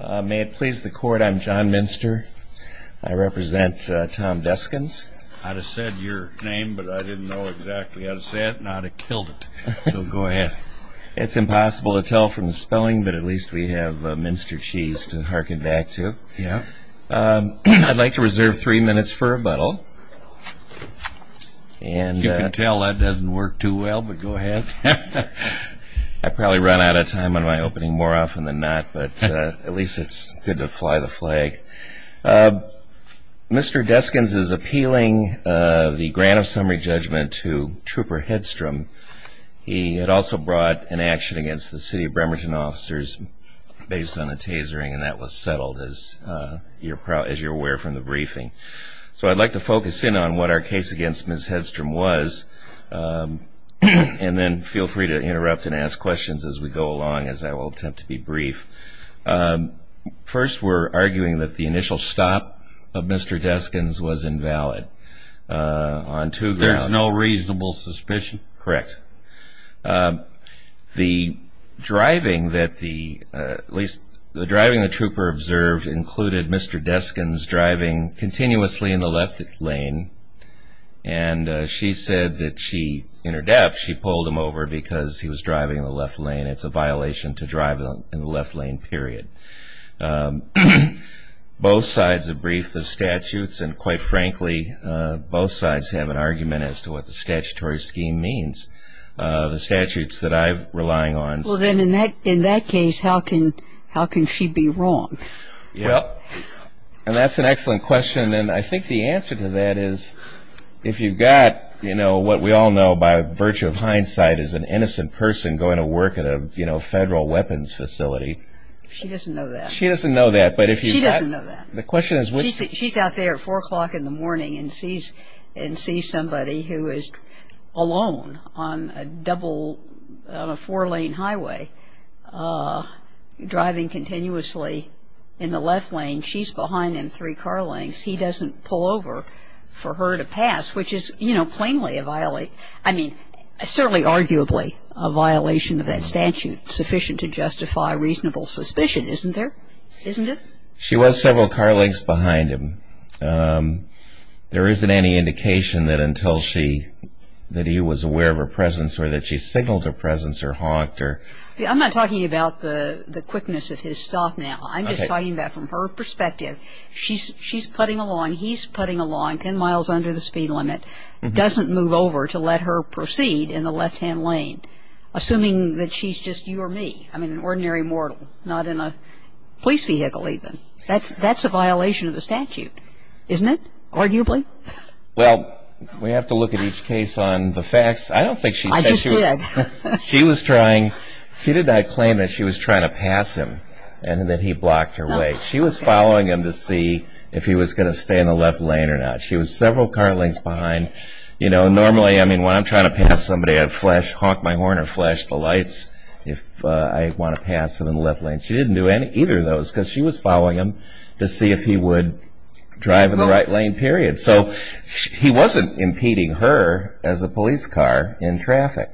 May it please the court, I'm John Minster. I represent Tom Deskins. I'd have said your name, but I didn't know exactly how to say it, and I'd have killed it. So go ahead. It's impossible to tell from the spelling, but at least we have minster cheese to harken back to. Yeah. I'd like to reserve three minutes for a butthole. And you can tell that doesn't work too well, but go ahead. I probably run out of time on my opening more often than not, but at least it's good to fly the flag. Mr. Deskins is appealing the grant of summary judgment to Trooper Hedstrom. He had also brought an action against the City of Bremerton officers based on the tasering, and that was settled, as you're aware from the briefing. So I'd like to focus in on what our case against Ms. Hedstrom was, and then feel free to interrupt and ask questions as we go along, as I will attempt to be brief. First, we're arguing that the initial stop of Mr. Deskins was invalid on two grounds. There's no reasonable suspicion? Correct. The driving that the, at least the driving the trooper observed included Mr. Deskins driving continuously in the left lane, and she said that she, in her depth, she pulled him over because he was driving in the left lane. It's a violation to drive in the left lane, period. Both sides have briefed the statutes, and quite frankly, both sides have an argument as to what the statutory scheme means. The statutes that I'm relying on... Well then, in that case, how can she be wrong? Well, and that's an excellent question, and I think the answer to that is, if you've got, you know, what we all know by virtue of hindsight is an innocent person going to work at a, you know, federal weapons facility. She doesn't know that. She doesn't know that, but if you've got... She doesn't know that. The question is which... She's out there at 4 o'clock in the morning and sees, and sees somebody who is alone on a double, on a four-lane highway, driving continuously in the left lane. She's behind him three car lengths. He doesn't pull over for her to pass, which is, you know, plainly a violate. I mean, certainly arguably a violation of that statute, sufficient to justify reasonable suspicion, isn't there? Isn't it? She was several car lengths behind him. There isn't any indication that until she, that he was aware of her presence, or that she signaled her presence, or hawked her... I'm not talking about the quickness of his stop now. I'm just talking about from her perspective, she's, she's putting a line, he's putting a line 10 miles under the speed limit, doesn't move over to let her proceed in the left-hand lane, assuming that she's just you or me. I mean, an ordinary mortal, not in a police vehicle, even. That's, that's a violation of the statute, isn't it? Arguably? Well, we have to look at each case on the facts. I don't think she... I just did. She was trying... She did not claim that she was trying to pass him, and that he blocked her way. She was following him to see if he was going to stay in the left lane or not. She was several car lengths behind. You know, normally, I mean, when I'm trying to pass somebody, I flash, honk my horn, or flash the lights if I want to pass him in the left lane. She didn't do any, either of those, because she was following him to see if he would drive in the right lane, period. So, he wasn't impeding her, as a police car, in traffic.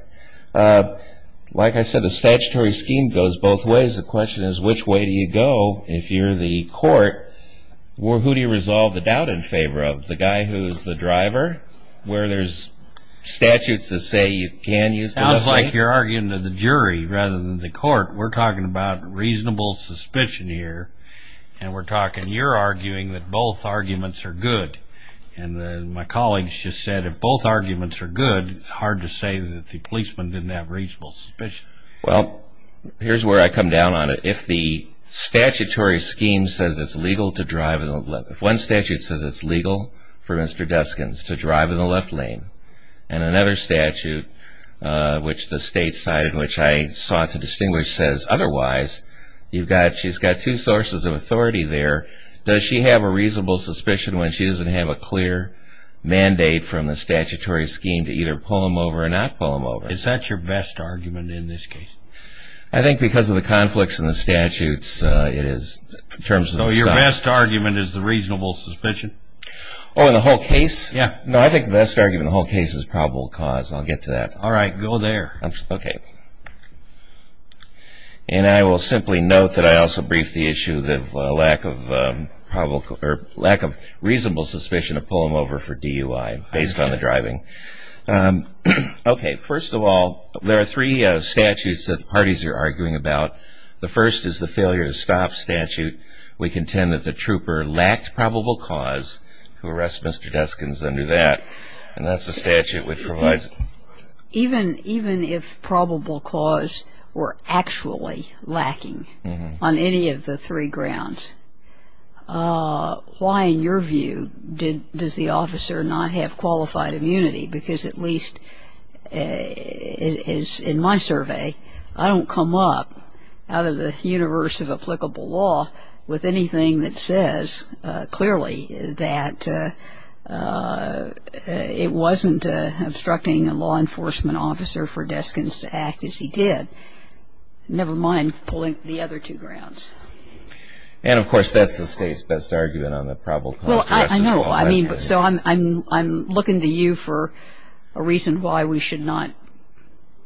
Like I said, the statutory scheme goes both ways. The question is, which way do you go? If you're the court, who do you resolve the doubt in favor of? The guy who's the driver? Where there's statutes that say you can use the left lane? Sounds like you're arguing to the jury, rather than the court. We're talking about reasonable suspicion here, and we're talking... You're arguing that both arguments are good. And my colleagues just said, if both arguments are good, it's Well, here's where I come down on it. If the statutory scheme says it's legal to drive in the left... If one statute says it's legal for Mr. Deskins to drive in the left lane, and another statute, which the state side, which I sought to distinguish, says otherwise, you've got... She's got two sources of authority there. Does she have a reasonable suspicion when she doesn't have a clear mandate from the statutory scheme to either pull him over or not pull him over? I think because of the conflicts in the statutes, it is... In terms of... So your best argument is the reasonable suspicion? Oh, in the whole case? Yeah. No, I think the best argument in the whole case is probable cause. I'll get to that. All right, go there. Okay. And I will simply note that I also briefed the issue of lack of probable... lack of reasonable suspicion to pull him over for DUI, based on the statutes that the parties are arguing about. The first is the failure to stop statute. We contend that the trooper lacked probable cause to arrest Mr. Deskins under that, and that's the statute which provides... Even if probable cause were actually lacking on any of the three grounds, why, in your view, does the officer not have qualified immunity? Because at least, as in my survey, I don't come up, out of the universe of applicable law, with anything that says clearly that it wasn't obstructing a law enforcement officer for Deskins to act as he did, never mind pulling the other two grounds. And, of course, that's the state's best argument on the probable cause to arrest as well. Well, I know. I mean, so I'm looking to you for a reason why we should not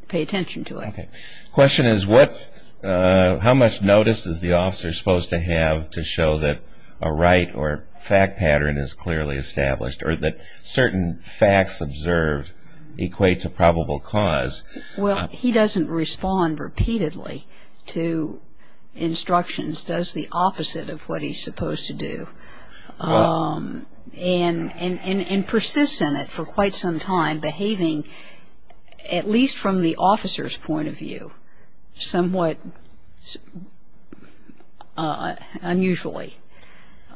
pay attention to it. Okay. Question is what... how much notice is the officer supposed to have to show that a right or fact pattern is clearly established, or that certain facts observed equates a probable cause? Well, he doesn't respond repeatedly to instructions, does the opposite of what he's supposed to do, and persists in it for quite some time, behaving, at least from the officer's point of view, somewhat unusually.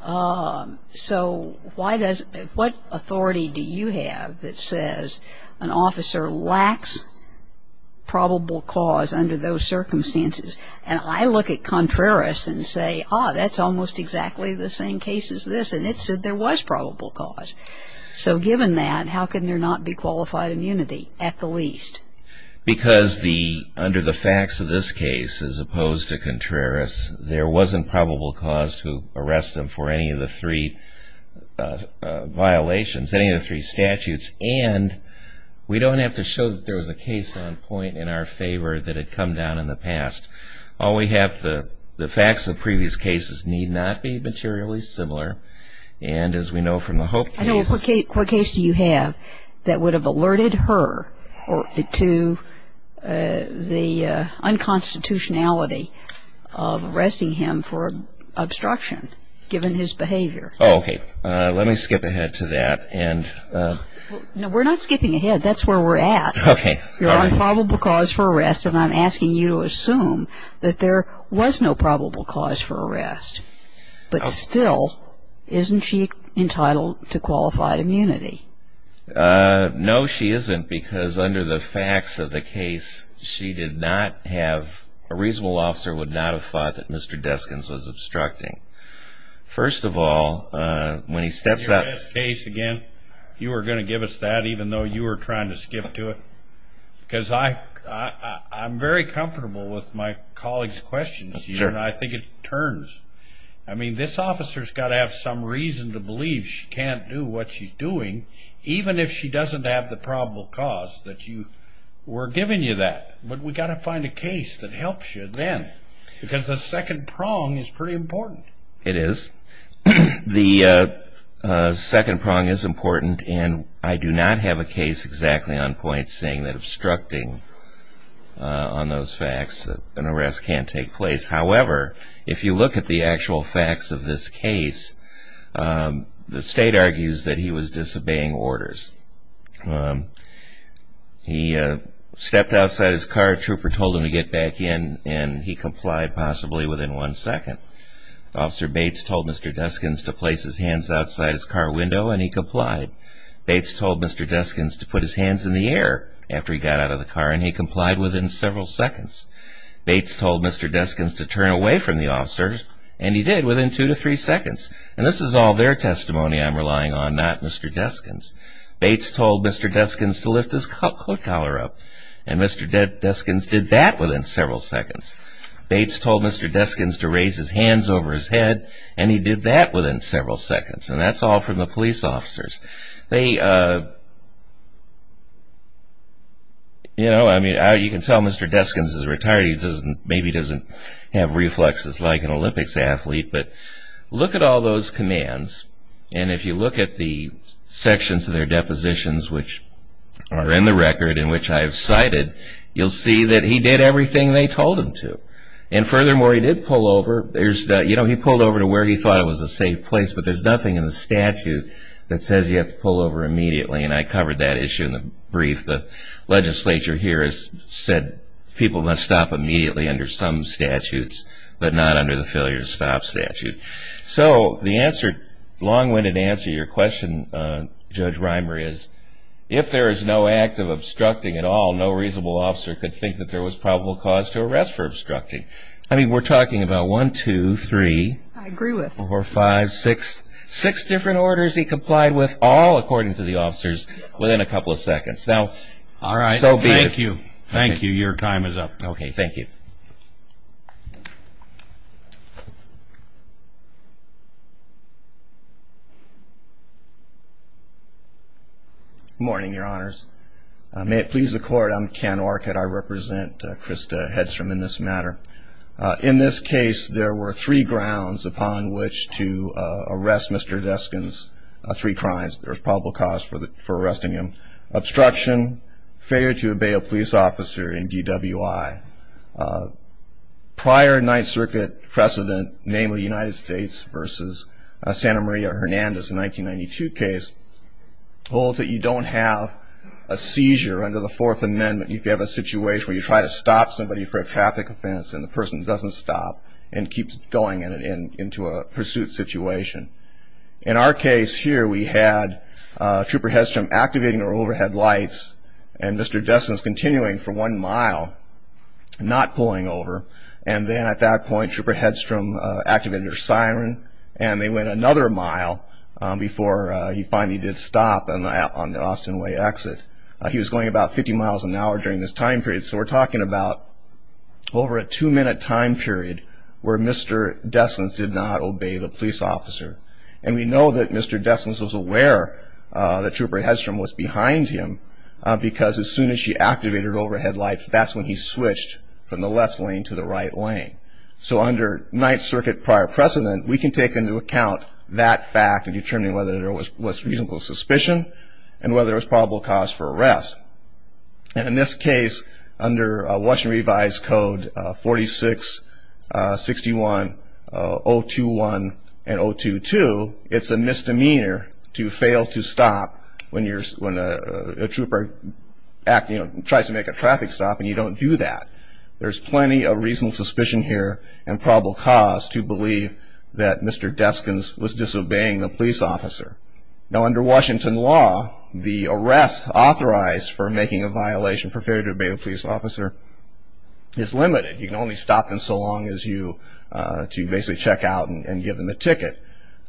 So why does... what authority do you have that says an officer lacks probable cause under those circumstances? And I look at Contreras and say, ah, that's almost exactly the same case as this, and it said there was a probable cause, and that's what he did. But, beyond that, how can there not be qualified immunity, at the least? Because the... under the facts of this case, as opposed to Contreras, there wasn't probable cause to arrest him for any of the three violations, any of the three statutes, and we don't have to show that there was a case on point in our favor that had come down in the past. All we have... the facts of previous cases need not be materially similar, and as we know from the Hope case... I know, but what case do you have that would have alerted her to the unconstitutionality of arresting him for obstruction, given his behavior? Oh, okay. Let me skip ahead to that, and... No, we're not skipping ahead. That's where we're at. Okay. You're on probable cause for arrest, and I'm asking you to assume that there was no probable cause for arrest, but still, isn't she entitled to qualified immunity? No, she isn't, because under the facts of the case, she did not have... a reasonable officer would not have thought that Mr. Deskins was obstructing. First of all, when he steps up... In your last case, again, you were going to give us that, even though you were trying to skip to it? Because I... I'm very comfortable with my colleagues' questions. Sure. I think it turns... I mean, this officer's got to have some reason to believe she can't do what she's doing, even if she doesn't have the probable cause that you... We're giving you that, but we've got to find a case that helps you then, because the second prong is pretty important. It is. The second prong is important, and I do not have a case exactly on point saying that obstructing on those facts, an arrest can't take place. However, if you look at the actual facts of this case, the state argues that he was disobeying orders. He stepped outside his car, a trooper told him to get back in, and he complied, possibly within one second. Officer Bates told Mr. Deskins to place his hands outside his car window, and he complied. Bates told Mr. Deskins to put his hands in the air after he got out of the car, and he told Mr. Deskins to turn away from the officer, and he did, within two to three seconds. And this is all their testimony I'm relying on, not Mr. Deskins. Bates told Mr. Deskins to lift his coat collar up, and Mr. Deskins did that within several seconds. Bates told Mr. Deskins to raise his hands over his head, and he did that within several seconds, and that's all from the police officers. They... You know, I you can tell Mr. Deskins is retired. He maybe doesn't have reflexes like an Olympics athlete, but look at all those commands, and if you look at the sections of their depositions, which are in the record, in which I've cited, you'll see that he did everything they told him to. And furthermore, he did pull over. There's... You know, he pulled over to where he thought it was a safe place, but there's nothing in the statute that says you have to pull over immediately, and I said people must stop immediately under some statutes, but not under the failure to stop statute. So the answer, long-winded answer to your question, Judge Reimer, is if there is no act of obstructing at all, no reasonable officer could think that there was probable cause to arrest for obstructing. I mean, we're talking about one, two, three, four, five, six, six different orders he complied with, all according to the officers, within a couple of seconds. Now, all right. So be it. Thank you. Thank you. Your time is up. Okay. Thank you. Good morning, Your Honors. May it please the Court, I'm Ken Orcutt. I represent Krista Hedstrom in this matter. In this case, there were three grounds upon which to arrest Mr. Deskin's three crimes. There was probable cause for failure to obey a police officer in DWI. Prior Ninth Circuit precedent, namely United States versus Santa Maria Hernandez in 1992 case, holds that you don't have a seizure under the Fourth Amendment if you have a situation where you try to stop somebody for a traffic offense and the person doesn't stop and keeps going into a pursuit situation. In our case here, we had Trooper Hedstrom activating her overhead lights and Mr. Deskin's continuing for one mile, not pulling over. And then at that point, Trooper Hedstrom activated her siren and they went another mile before he finally did stop on the Austin Way exit. He was going about 50 miles an hour during this time period. So we're talking about over a two-minute time period where Mr. Deskin's did not obey the police officer. And we know that Mr. Deskin's was aware that Trooper Hedstrom was behind him because as soon as she activated her overhead lights, that's when he switched from the left lane to the right lane. So under Ninth Circuit prior precedent, we can take into account that fact in determining whether there was reasonable suspicion and whether there was probable cause for arrest. And in this case, under Washington Revised Code 4661, 021, and 022, it's a misdemeanor to fail to stop when a trooper tries to make a traffic stop and you don't do that. There's plenty of reasonable suspicion here and probable cause to believe that Mr. Deskin's was disobeying the police officer. Now under Washington law, the is limited. You can only stop them so long as you to basically check out and give them a ticket.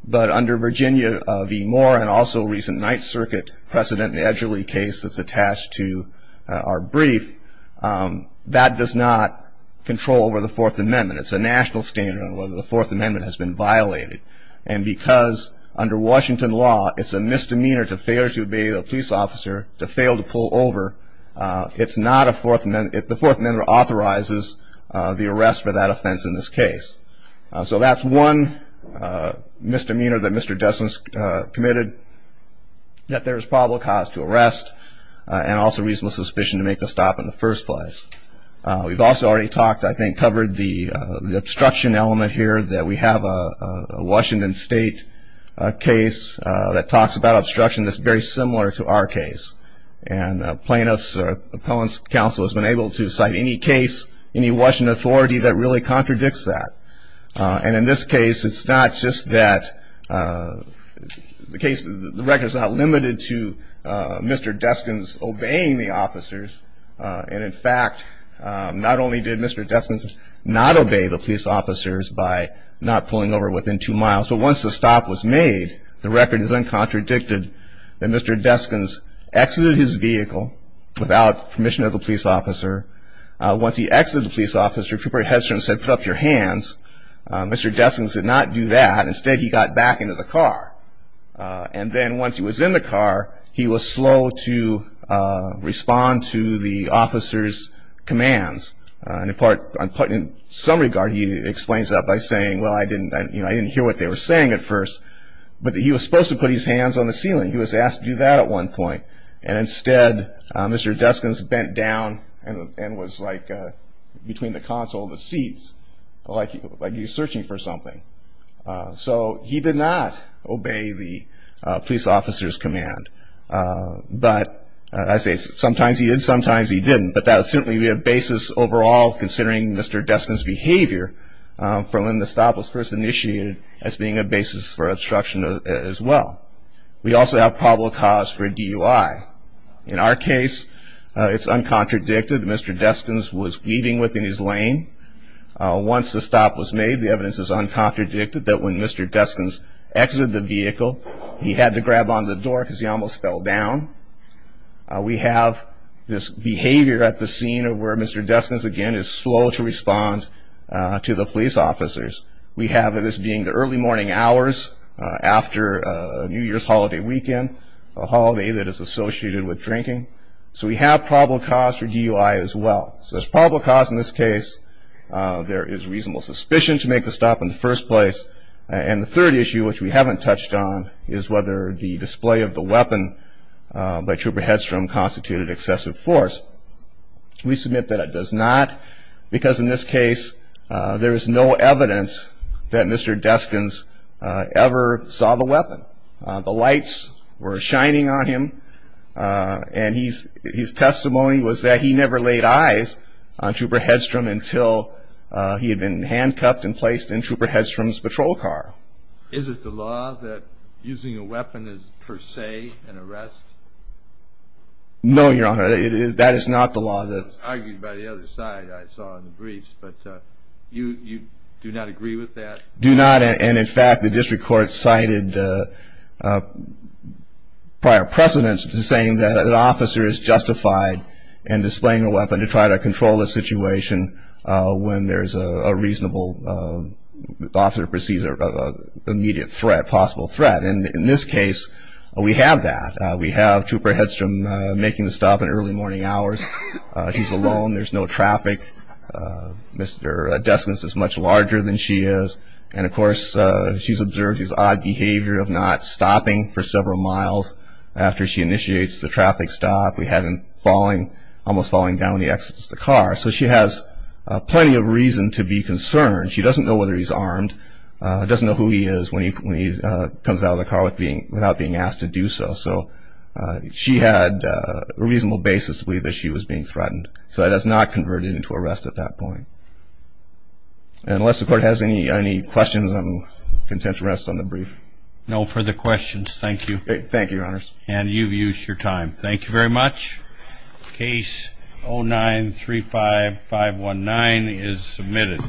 But under Virginia v. Moore and also recent Ninth Circuit precedent, the Edgerly case that's attached to our brief, that does not control over the Fourth Amendment. It's a national standard on whether the Fourth Amendment has been violated. And because under Washington law, it's a misdemeanor to fail to obey the police officer, to fail to pull over, it's not the Fourth Amendment authorizes the arrest for that offense in this case. So that's one misdemeanor that Mr. Deskin's committed that there's probable cause to arrest and also reasonable suspicion to make the stop in the first place. We've also already talked, I think, covered the obstruction element here that we have a Washington State case that talks about obstruction that's very has been able to cite any case, any Washington authority that really contradicts that. And in this case, it's not just that the case, the record's not limited to Mr. Deskin's obeying the officers. And in fact, not only did Mr. Deskin's not obey the police officers by not pulling over within two miles, but once the stop was made, the record is uncontradicted that Mr. Deskin's exited his vehicle without permission of the police officer. Once he exited the police officer, Trooper Hedstrom said, put up your hands. Mr. Deskin's did not do that. Instead, he got back into the car. And then once he was in the car, he was slow to respond to the officer's commands. And in some regard, he explains that by saying, well, I didn't hear what they were saying at first, but that he was supposed to put his hands on the ceiling. He was asked to do that at one point. And instead, Mr. Deskin's bent down and was like between the console and the seats, like he was searching for something. So he did not obey the police officer's command. But I say sometimes he did, sometimes he didn't. But that would certainly be a basis overall, considering Mr. Deskin's behavior from when the stop was first initiated as being a basis for DUI. In our case, it's uncontradicted. Mr. Deskin's was weaving within his lane. Once the stop was made, the evidence is uncontradicted that when Mr. Deskin's exited the vehicle, he had to grab on the door because he almost fell down. We have this behavior at the scene of where Mr. Deskin's, again, is slow to respond to the police officers. We have this being the early morning hours after a New Year's holiday weekend, a holiday that is associated with drinking. So we have probable cause for DUI as well. So there's probable cause in this case. There is reasonable suspicion to make the stop in the first place. And the third issue, which we haven't touched on, is whether the display of the weapon by Trooper Hedstrom constituted excessive force. We submit that it does not, because in this case, there is no evidence that Mr. Deskin's ever saw the weapon. The lights were shining on him, and his testimony was that he never laid eyes on Trooper Hedstrom until he had been handcuffed and placed in Trooper Hedstrom's patrol car. Is it the law that using a weapon is, per se, an arrest? No, Your Honor, that is not the law. It was argued by the other side I saw in the briefs, but you do not agree with that? Do not. And in fact, the district court cited prior precedence to saying that an officer is justified in displaying a weapon to try to control a situation when there's a reasonable officer perceives an immediate threat, possible threat. And in this case, we have that. We have Trooper Hedstrom making the stop in early morning hours. He's alone. There's no other driver than she is. And of course, she's observed his odd behavior of not stopping for several miles after she initiates the traffic stop. We have him almost falling down when he exits the car. So she has plenty of reason to be concerned. She doesn't know whether he's armed, doesn't know who he is when he comes out of the car without being asked to do so. So she had a reasonable basis to believe that she was being threatened. So that has not converted into arrest at that point. And unless the court has any questions, I'm content to rest on the brief. No further questions. Thank you. Thank you, Your Honors. And you've used your time. Thank you very much. Case 0935519 is submitted.